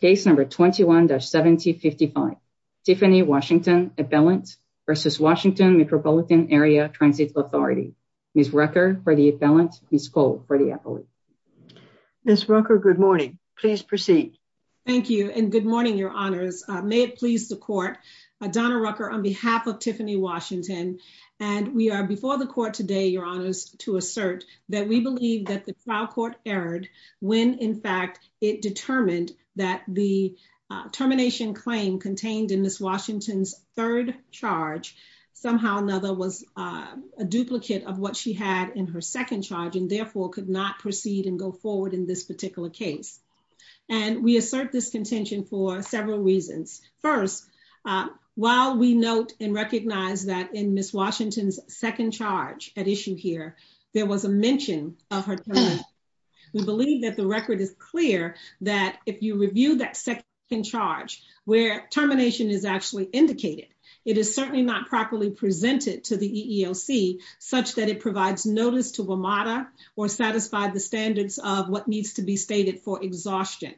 case number 21-1755. Tiffany Washington appellant versus Washington Metropolitan Area Transit Authority. Ms. Rucker for the appellant, Ms. Cole for the appellate. Ms. Rucker, good morning. Please proceed. Thank you. And good morning, your honors. May it please the court, Donna Rucker on behalf of Tiffany Washington. And we are before the court today, your honors, to assert that we believe that the trial court erred when, in fact, it determined that the termination claim contained in this Washington's third charge. Somehow another was a duplicate of what she had in her second charge and therefore could not proceed and go forward in this particular case. And we assert this contention for several reasons. First, while we note and recognize that in Miss Washington's second charge at issue here, there was a mention of her time. We believe that the record is clear that if you review that second charge where termination is actually indicated, it is certainly not properly presented to the EEOC such that it provides notice to WMATA or satisfy the standards of what needs to be stated for exhaustion.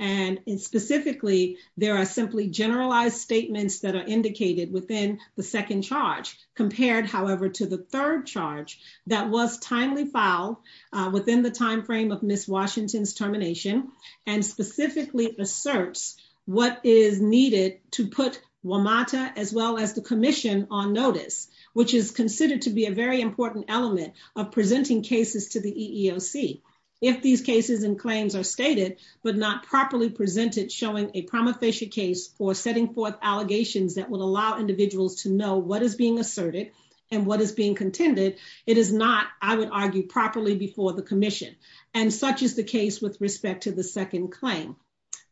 And specifically, there are simply generalized statements that are indicated within the second charge compared, however, to the third charge that was timely file within the timeframe of Miss Washington's termination and specifically asserts what is needed to put WMATA as well as the commission on notice, which is considered to be a very important element of presenting cases to the EEOC. If these cases and claims are stated but not properly presented, showing a ramifacient case for setting forth allegations that will allow individuals to know what is being asserted and what is being contended, it is not, I would argue, properly before the commission. And such is the case with respect to the second claim.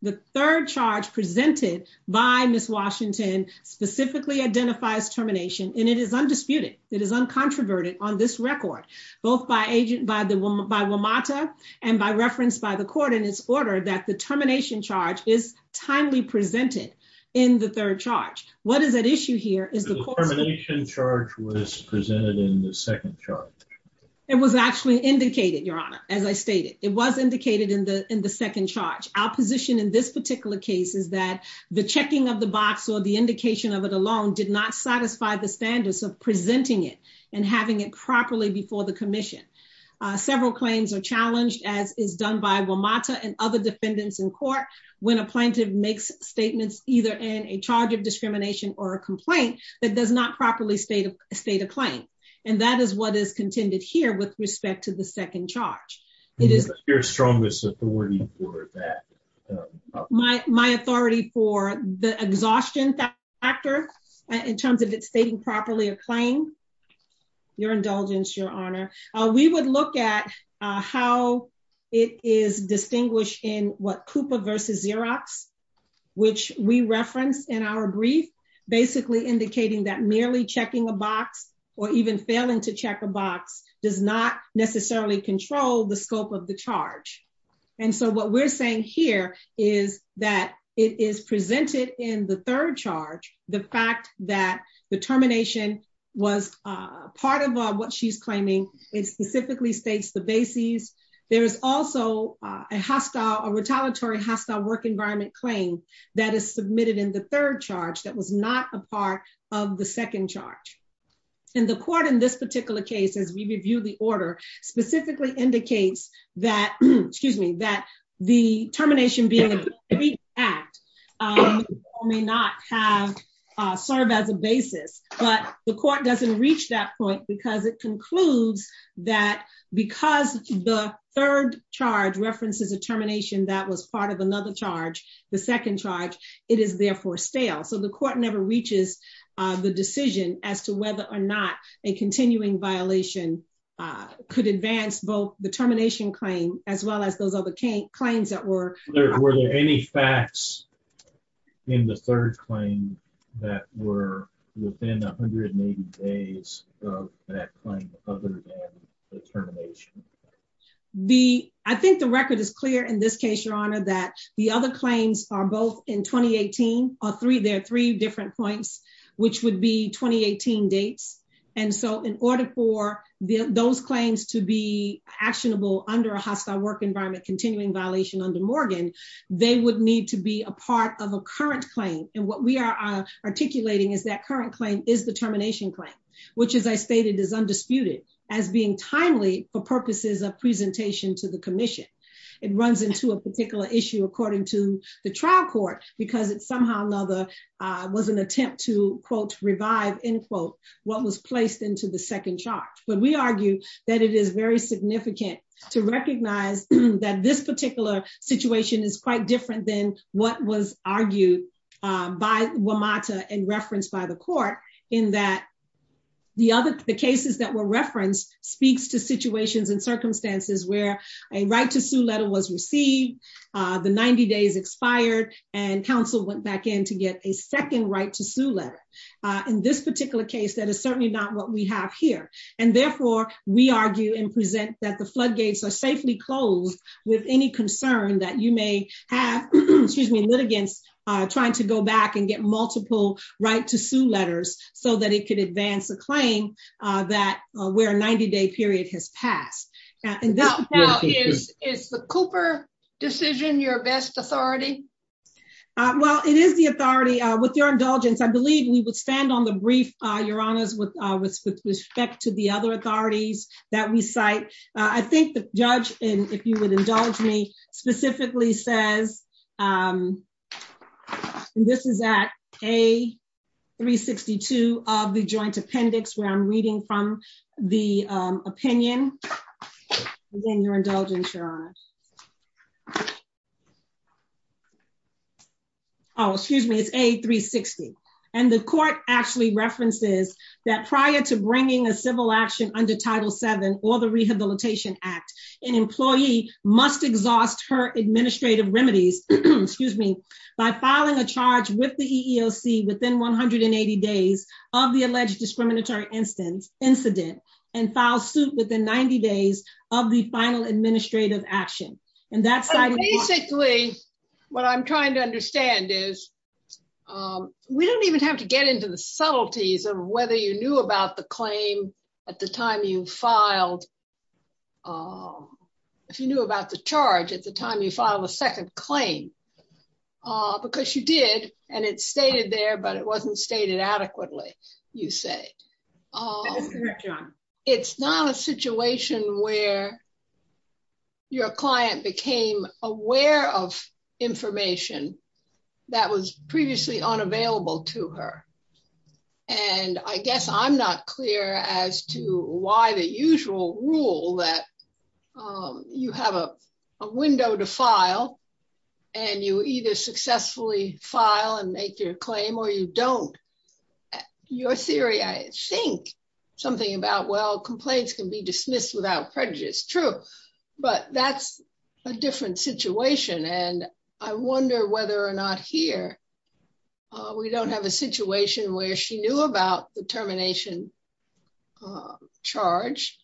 The third charge presented by Miss Washington specifically identifies termination, and it is undisputed. It is uncontroverted on this record, both by WMATA and by reference by the court in its termination charge, is timely presented in the third charge. What is at issue here is the termination charge was presented in the second charge. It was actually indicated, Your Honor, as I stated. It was indicated in the second charge. Our position in this particular case is that the checking of the box or the indication of it alone did not satisfy the standards of presenting it and having it properly before the commission. Several claims are in court when a plaintiff makes statements, either in a charge of discrimination or a complaint, that does not properly state a claim. And that is what is contended here with respect to the second charge. What is your strongest authority for that? My authority for the exhaustion factor in terms of it stating properly a claim? Your indulgence, Your Honor. We would look at how it is distinguished in what Cooper versus Xerox, which we referenced in our brief, basically indicating that merely checking a box or even failing to check a box does not necessarily control the scope of the charge. And so what we're saying here is that it is presented in the third charge. The fact that the termination was part of what she's claiming. It specifically states the bases. There is also a hostile or retaliatory hostile work environment claim that is submitted in the third charge that was not a part of the second charge. And the court in this particular case, as we review the order, specifically indicates that, excuse me, that the termination being an act may not have served as a basis. But the court doesn't reach that point because it concludes that because the third charge references a termination that was part of another charge, the second charge, it is therefore stale. So the court never reaches the decision as to whether or not a continuing violation could advance both the termination claim as well as those other claims that were. Were there any facts in the third claim that were within 180 days of that claim other than the termination? The I think the record is clear in this case, your honor, that the other claims are both in 2018 or three. There are three different points which would be 2018 dates. And so in order for those claims to be actionable under a hostile work environment, continuing violation under Morgan, they would need to be a part of a current claim. And what we are articulating is that current claim is the termination claim, which, as I stated, is undisputed as being timely for the purposes of presentation to the commission. It runs into a particular issue according to the trial court, because it's somehow another was an attempt to, quote, revive, end quote, what was placed into the second charge. But we argue that it is very significant to recognize that this particular situation is quite different than what was argued by WMATA and referenced by the court in that the other the cases that were referenced speaks to situations and circumstances where a right to sue letter was received. The 90 days expired and counsel went back in to get a second right to sue letter. In this particular case, that is certainly not what we have here. And therefore, we argue and present that the floodgates are safely closed with any concern that you may have, excuse me, litigants trying to go back and get multiple right to sue letters so that it could advance a claim that where a 90 day period has passed. And this is the Cooper decision. Your best authority. Well, it is the authority with your indulgence. I believe we would stand on the brief your honors with respect to the other authorities that we cite. I think the judge and if you would indulge me specifically says, um, this is that a 3 62 of the joint appendix where I'm reading from the opinion within your indulgence, your honor. Oh, excuse me. It's a 3 60. And the court actually references that prior to bringing a civil action under Title seven or the Rehabilitation Act, an employee must exhaust her administrative remedies, excuse me, by filing a charge with the E. O. C. Within 180 days of the alleged discriminatory instance incident and file suit within 90 days of the final administrative action. And that's basically what I'm trying to understand is, um, we don't even have to get into the subtleties of whether you knew about the claim at the time you filed. Um, if you knew about the charge at the time you filed a second claim, uh, because you did and it's stated there, but it wasn't stated adequately, you say, uh, it's not a situation where your client became aware of information that was previously unavailable to her. And I guess I'm not clear as to why the usual rule that, um, you have a window to file and you either successfully file and make your claim or you don't. Your theory, I think something about, well, complaints can be dismissed without prejudice. True. But that's a different situation. And I wonder whether or not here, uh, we don't have a situation where she knew about the termination, uh, charge,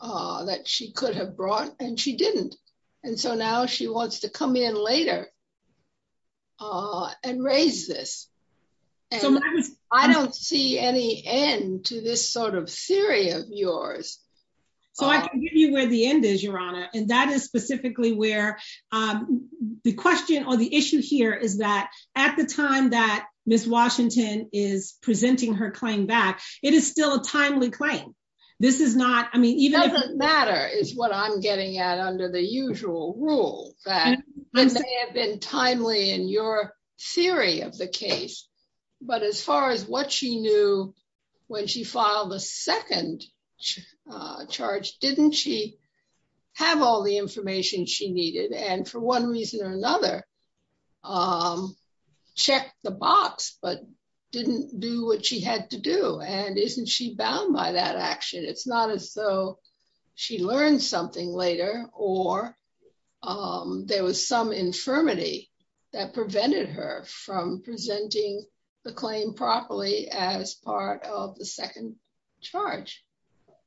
uh, that she could have brought and she didn't. And so now she wants to come in later, uh, and raise this. I don't see any end to this sort of theory of yours. So I can give you where the end is, Your Honor. And that is specifically where, um, the question or the issue here is that at the time that Miss Washington is presenting her claim back, it is still a timely claim. This is not, I mean, even if it doesn't matter is what I'm getting at under the usual rule that have been timely in your theory of the case. But as far as what she knew when she filed the second, uh, charge, didn't she have all the information she needed? And for one reason or another, um, check the box, but didn't do what she had to do. And isn't she bound by that action? It's not as though she learned something later or, um, there was some infirmity that prevented her from presenting the claim properly as part of the second charge.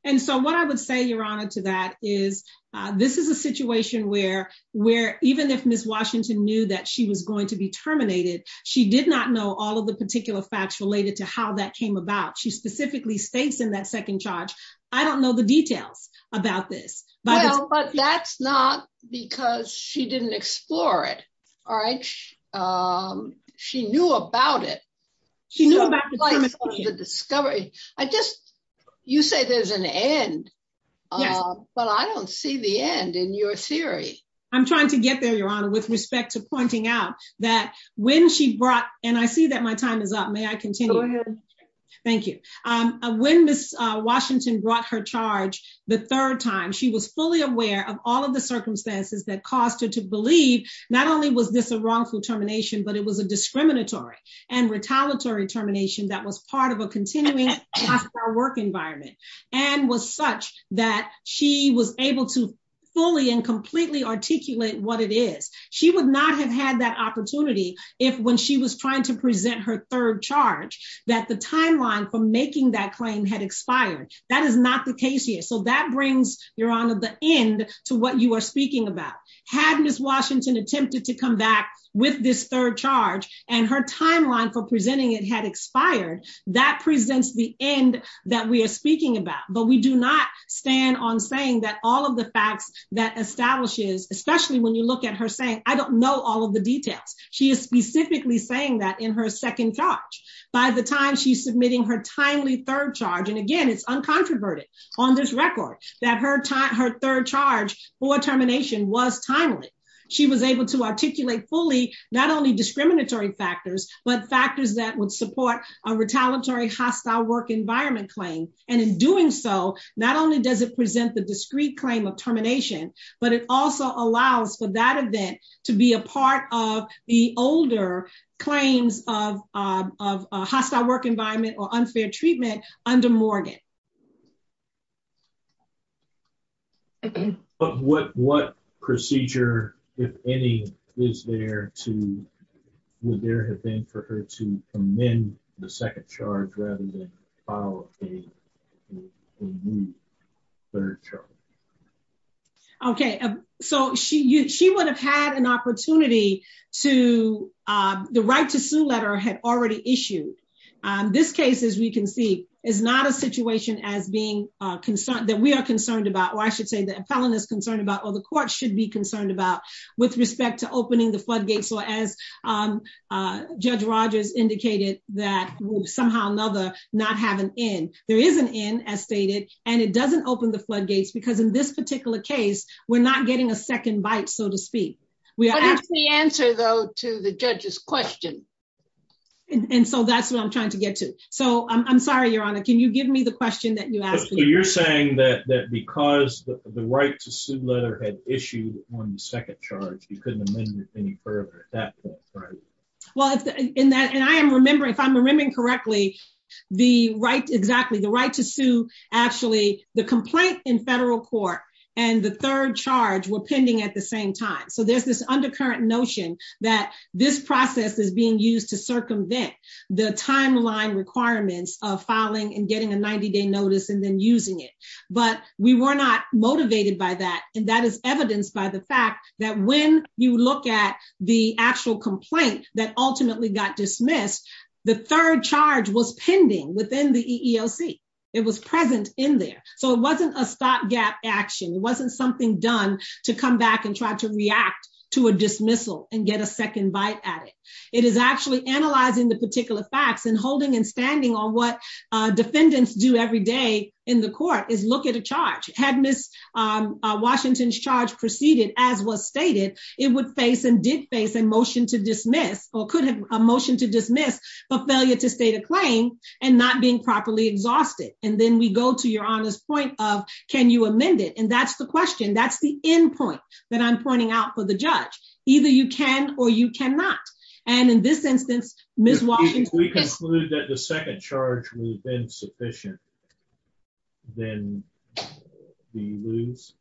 And so what I would say, Your Honor to that is, uh, this is a situation where, where even if Miss Washington knew that she was going to be terminated, she did not know all of the particular facts related to how that came about. She specifically states in that second charge, I don't know the details about this, but that's not because she didn't explore it. All she knew about the discovery. I just you say there's an end, but I don't see the end. In your theory, I'm trying to get there, Your Honor, with respect to pointing out that when she brought and I see that my time is up. May I continue? Thank you. Um, when Miss Washington brought her charge the third time, she was fully aware of all of the circumstances that cost her to believe. Not only was this a wrongful termination, but it was a discriminatory and retaliatory termination that was part of a continuing our work environment and was such that she was able to fully and completely articulate what it is. She would not have had that opportunity if when she was trying to present her third charge that the timeline for making that claim had expired. That is not the case here. So that brings your honor the end to what you are speaking about. Had Miss Washington attempted to come back with this third charge and her timeline for presenting it had expired. That presents the end that we're speaking about. But we do not stand on saying that all of the facts that establishes, especially when you look at her saying, I don't know all of the details. She is specifically saying that in her second charge by the time she's submitting her timely third charge. And again, it's uncontroverted on this record that her time her third charge for termination was timely. She was able to articulate fully, not only discriminatory factors, but factors that would support a retaliatory hostile work environment claim. And in doing so, not only does it present the discrete claim of termination, but it also allows for that event to be a part of the older claims of of hostile work environment or unfair treatment under Morgan. Okay. But what what procedure, if any, is there to would there have been for her to amend the second charge rather than follow a third charge? Okay, so she she would have had an opportunity to the right to sue letter had already issued. This case, as we can see, is not a situation as being concerned that we are concerned about, or I should say the appellant is concerned about or the court should be concerned about with respect to opening the floodgates or as Judge Rogers indicated that somehow another not have an end. There is an end as stated, and it doesn't open the floodgates because in this particular case, we're not getting a second bite, so to speak. We answer, though, to the judge's question. And so that's what I'm trying to get to. So I'm sorry, Your Honor. Can you give me the question that you asked? You're saying that because the right to sue letter had issued on the second charge, you couldn't amend it any further at that point, right? Well, in that and I am remembering if I'm remembering correctly, the right exactly the right to sue. Actually, the complaint in federal court and the third charge were pending at the same time. So there's this undercurrent notion that this process is being used to circumvent the timeline requirements of filing and getting a 90 day notice and then using it. But we were not motivated by that. And that is evidenced by the fact that when you look at the actual complaint that ultimately got dismissed, the third charge was pending within the E. E. O. C. It was present in there, so it wasn't something done to come back and try to react to a dismissal and get a second bite at it. It is actually analyzing the particular facts and holding and standing on what defendants do every day in the court is look at a charge. Had Miss Washington's charge proceeded as was stated, it would face and did face a motion to dismiss or could have a motion to dismiss for failure to state a claim and not being properly exhausted. And then we go to your honest point of Can you amend it? And that's the question. That's the end point that I'm pointing out for the judge. Either you can or you cannot. And in this instance, Miss Washington, we concluded that the second charge would have been sufficient. Then do you lose?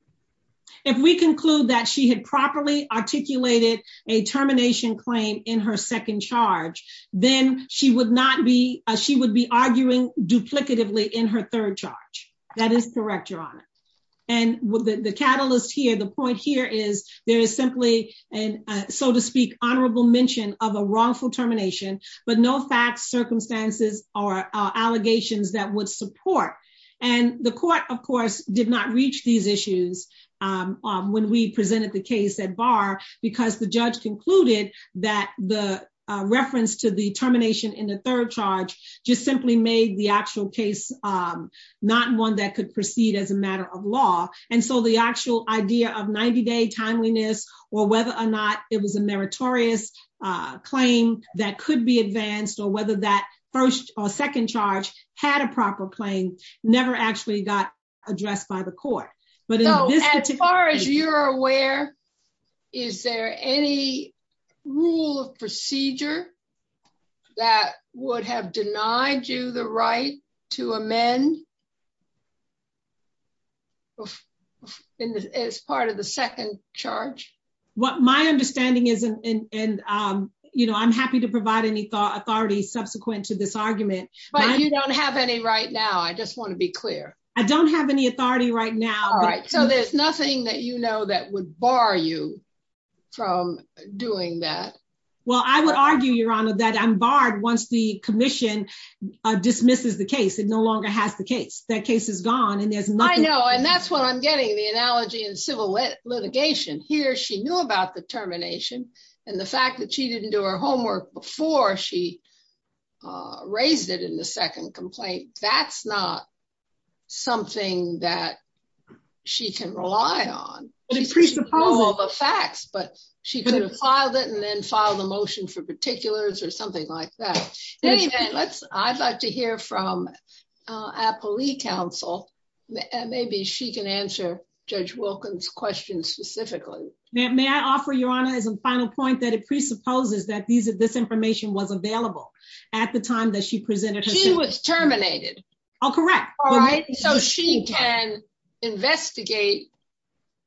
If we conclude that she had properly articulated a termination claim in her second charge, then she would not be. She would be arguing duplicatively in her third charge. That is correct, Your Honor. And with the catalyst here, the point here is there is simply and so to speak honorable mention of a wrongful termination. But no facts, circumstances or allegations that would support. And the court, of course, did not reach these issues when we presented the case that bar because the judge concluded that the reference to the termination in the third charge just simply made the actual case not one that could proceed as a matter of law. And so the actual idea of 90 day timeliness or whether or not it was a meritorious claim that could be advanced or whether that first or second charge had a proper claim never actually got addressed by the court. But as far as you're aware, is there any rule of procedure that would have denied you the right to amend as part of the second charge? What my understanding is, and, um, you know, I'm happy to provide any thought authority subsequent to this argument, but you don't have any right now. I just want to be clear. I don't have any authority right now. All right, so there's nothing that you know that would bar you from doing that. Well, I would argue your honor that I'm barred once the commission dismisses the case. It no longer has the case. That case is gone and there's no, I know. And that's what I'm getting the analogy and civil litigation here. She knew about the termination and the fact that she didn't do her homework before she, uh, raised it in the second complaint. That's not something that she can rely on all the facts, but she filed it and then filed a motion for particulars or something like that. Let's I'd like to hear from a police counsel. Maybe she can answer Judge Wilkins questions specifically. May I offer your honor is a final point that it presupposes that these of this information was available at the time that she presented. She was terminated. Oh, correct. All right. So she can investigate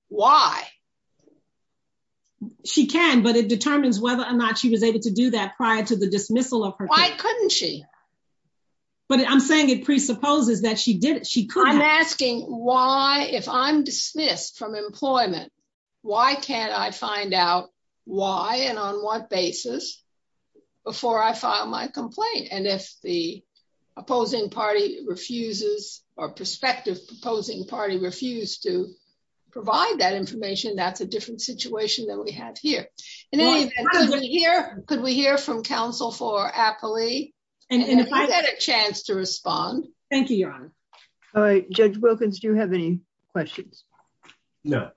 why she can, but it determines whether or not she was able to do that prior to the dismissal of her. Why couldn't she? But I'm saying it presupposes that she did it. She could asking why, if I'm dismissed from employment, why can't I find out why and on what basis before I filed my complaint? And if the opposing party refuses or perspective, proposing party refused to provide that information, that's a different situation that we have here. In any event, here, could we hear from Council for Appley? And if I had a chance to respond. Thank you, Your Honor. All right, Judge Wilkins, do you have any questions? No.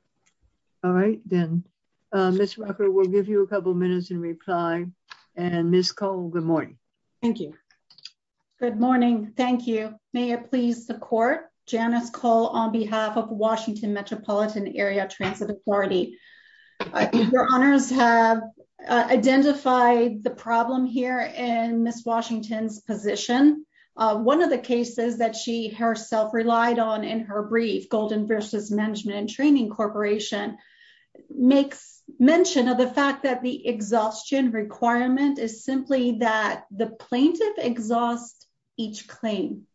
All right, then, uh, Miss Walker will give you a couple of minutes in reply and Miss Cole. Good morning. Thank you. Good morning. Thank you. May it please the court. Janice Cole on behalf of Washington Metropolitan Area Transit Authority. Your honors have identified the problem here in Miss Washington's position. One of the cases that she herself relied on in her brief Golden versus Management and Training Corporation makes mention of the fact that the exhaustion requirement is simply that the plaintiff exhaust each claim,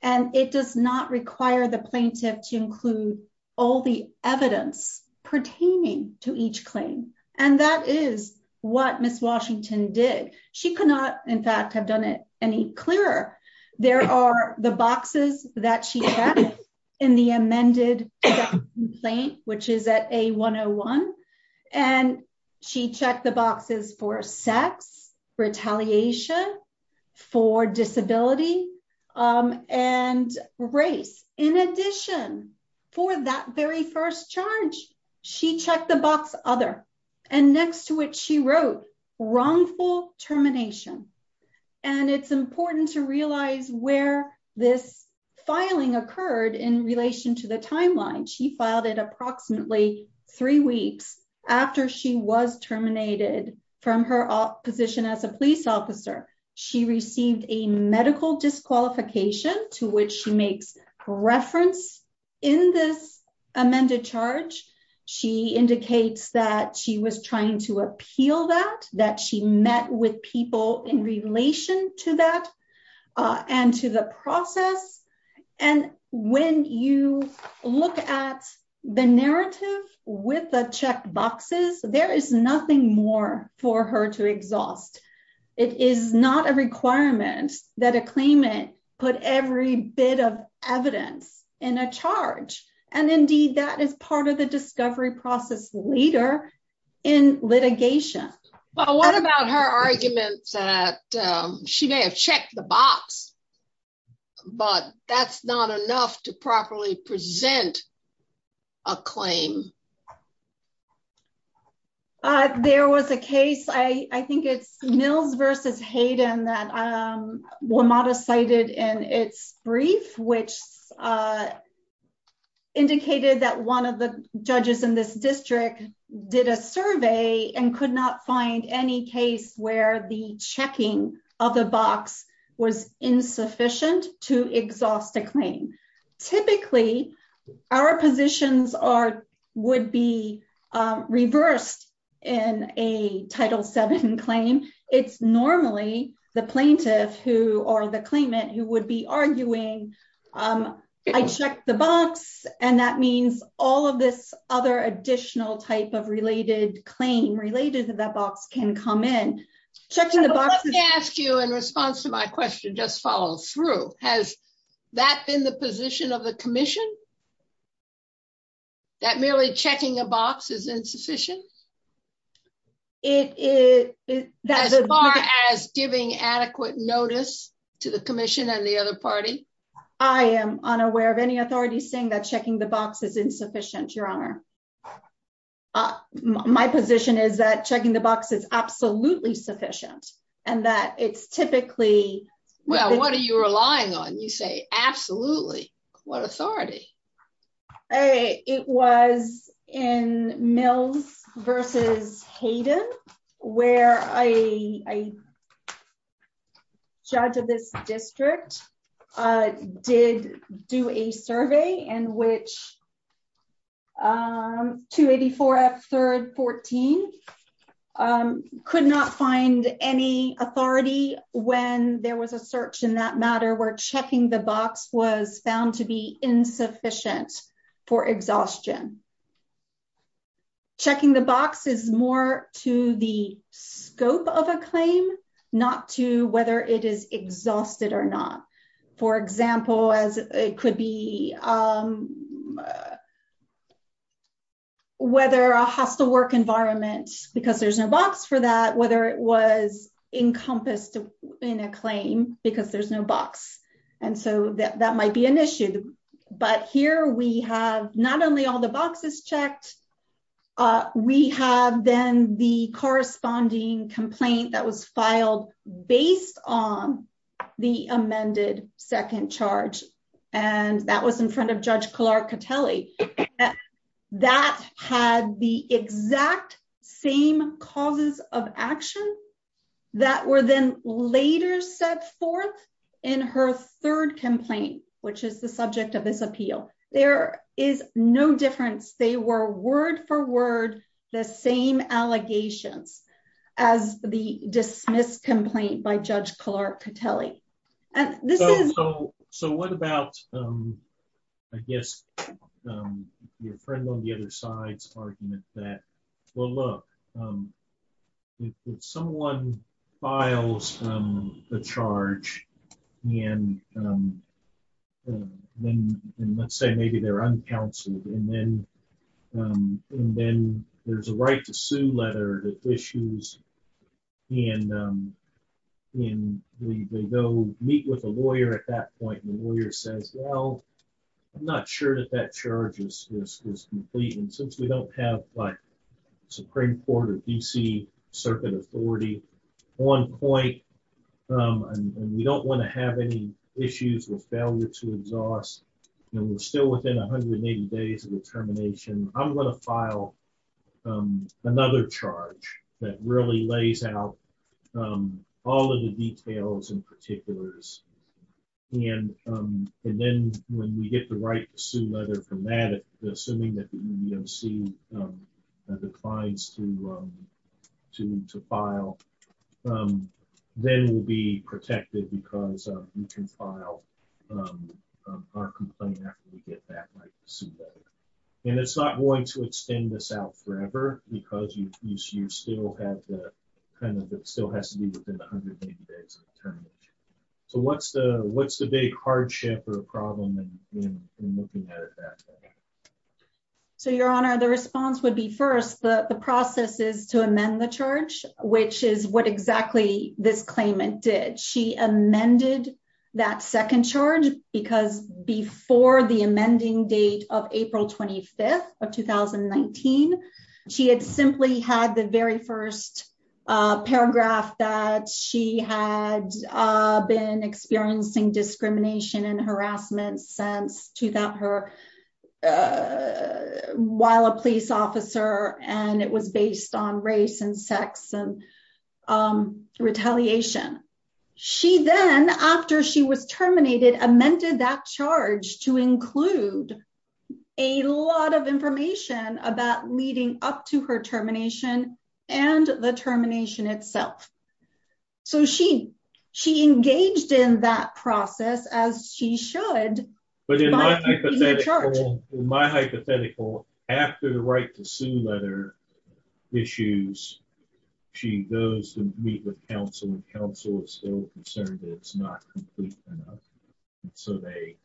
and it does not require the plaintiff to include all the evidence pertaining to each claim. And that is what Miss Washington did. She could not, in fact, have done it any clearer. There are the boxes that she had in the amended complaint, which is at a 101. And she checked the boxes for sex, retaliation, for disability and race. In addition, for that very first charge, she checked the box other and next to it, she wrote wrongful termination. And it's important to realize where this filing occurred in relation to the timeline. She filed it approximately three weeks after she was terminated from her position as a police officer, she received a medical disqualification to which she makes reference. In this amended charge, she indicates that she was trying to appeal that that she met with people in relation to that, and to the process. And when you look at the narrative with a check boxes, there is nothing more for her to exhaust. It is not a requirement that a claimant put every bit of evidence in a charge. And indeed, that is part of the discovery process leader in litigation. Well, what about her arguments that she may have checked the box. But that's not enough to properly present a claim. There was a case I think it's mills versus Hayden that were modest cited in its brief, which indicated that one of the judges in this district did a survey and could not find any case where the checking of the box was insufficient to exhaust a claim. Typically, our positions are would be reversed in a title seven claim. It's normally the plaintiff who are the claimant who would be arguing. I checked the box. And that means all of this other additional type of related claim related to that box can come in checking the ask you in response to my question, just follow through. Has that been the position of the Commission? That merely checking a box is insufficient. It does as far as giving adequate notice to the Commission and the other party. I am unaware of any authority saying that checking the box is insufficient, Your Honor. My position is that checking the box is absolutely sufficient, and that it's typically, well, what are you relying on? You say, absolutely. What authority? A it was in mills versus Hayden, where a judge of this district did do a survey and which 284 F 3rd 14 could not find any authority when there was a search in that matter where checking the box was found to be insufficient for exhaustion. Checking the box is more to the scope of a claim, not to whether it is exhausted or not. For example, as it could be whether a hostile work environment because there's no box for that, whether it was encompassed in a claim because there's no box. And so that might be an issue. But here we have not only all the boxes checked, we have then the corresponding complaint that was filed based on the amended second charge. And that was in front of Judge Clark Catelli that had the exact same causes of action that were then later set forth in her third complaint, which is the subject of this appeal. There is no difference. They were word for word, the same allegations as the dismissed complaint by Judge Clark Catelli. So what about, I guess, your friend on the other side's argument that, well, there's a right to sue letter that issues, and they go meet with a lawyer at that point, and the lawyer says, well, I'm not sure that that charge is complete. And since we don't have, like, Supreme Court or D.C. Circuit Authority on point, and we don't want to have any issues with failure to exhaust, and we're still within 180 days of the termination, I'm going to file another charge that really lays out all of the details and particulars. And then when we get the right to sue letter from that, assuming that we don't see a declines to file, then we'll be protected because we can file our complaint after we get that right to sue letter. And it's not going to extend this out forever because you still have the, kind of, it still has to be within 180 days of termination. So what's the big hardship or problem in looking at it that way? So, Your Honor, the response would be, first, the process is to amend the charge, which is what exactly this claimant did. She amended that second charge because before the amending date of April 25th of 2019, she had simply had the very first paragraph that she had been experiencing discrimination and harassment since while a police officer, and it was based on race and sex and retaliation. She then, after she was terminated, amended that charge to include a lot of information about leading up to her termination and the termination itself. So she engaged in that process as she should. But in my hypothetical, after the right to sue letter issues, she goes to meet with counsel and counsel is still concerned that it's not complete enough. So they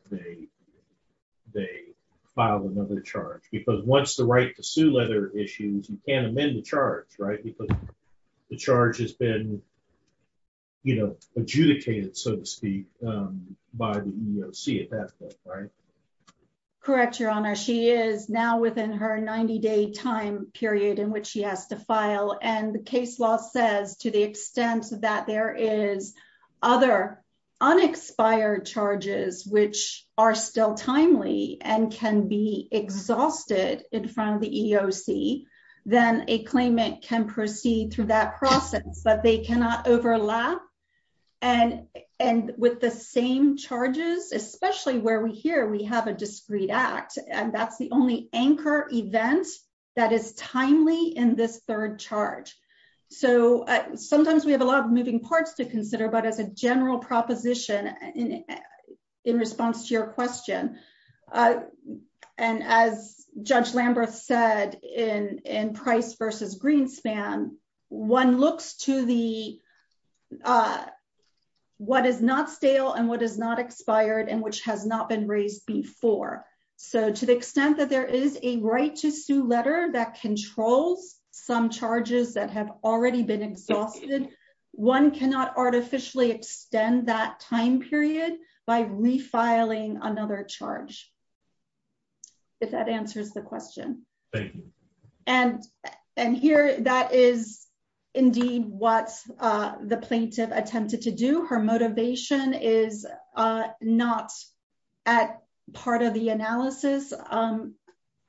file another charge. Because once the right to sue letter issues, you can't amend the charge, right? Because the charge has been, you know, adjudicated, so to speak, by the EEOC at that point. Correct, Your Honor. She is now within her 90-day time period in which she has to file. And the case law says to the extent that there is other unexpired charges, which are still timely and can be exhausted in front of the EEOC, then a claimant can proceed through that process. But they cannot overlap. And with the same charges, especially where we hear we have a discreet act, that's the only anchor event that is timely in this third charge. So sometimes we have a lot of moving parts to consider, but as a general proposition, in response to your question, and as Judge Lamberth said in Price v. Greenspan, one looks to what is not stale and what is not expired and which has not been raised before. So to the extent that there is a right to sue letter that controls some charges that have already been exhausted, one cannot artificially extend that time period by refiling another charge, if that answers the question. Thank you. And here, that is indeed what the plaintiff attempted to do. Her motivation is not part of the analysis.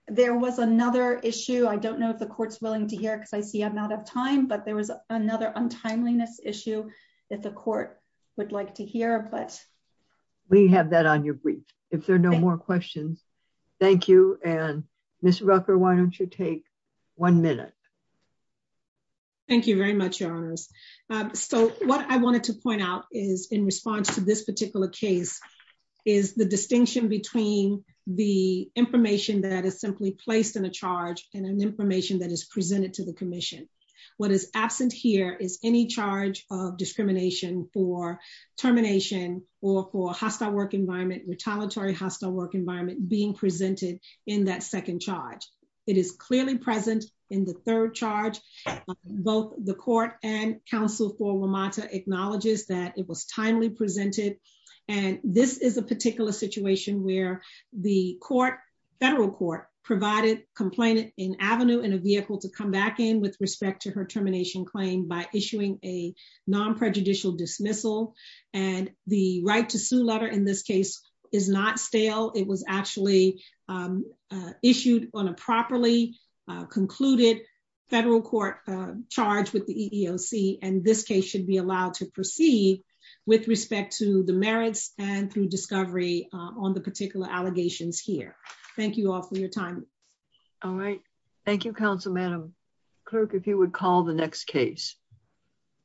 There was another issue, I don't know if the court's willing to hear because I see I'm out of time, but there was another untimeliness issue that the court would like to hear. We have that on your brief. If there are no more questions. Thank you, and Ms. Rucker, why don't you take one minute. Thank you very much, Your Honors. So what I wanted to point out is, in response to this particular case, is the distinction between the information that is simply placed in a charge and an information that is presented to the commission. What is absent here is any charge of discrimination for termination or for hostile work environment, retaliatory hostile work environment being presented in that second charge. It is clearly present in the third charge. Both the court and counsel for WMATA acknowledges that it was timely presented. And this is a particular situation where the court, federal court, provided complainant in Avenue in a vehicle to come back in with respect to her termination claim by issuing a non prejudicial dismissal. And the right to sue letter in this case is not stale, it was actually issued on a properly concluded federal court charge with the EEOC and this case should be allowed to proceed with respect to the merits and through discovery on the particular allegations here. Thank you all for your time. All right. Thank you, counsel, Madam Clerk, if you would call the next case.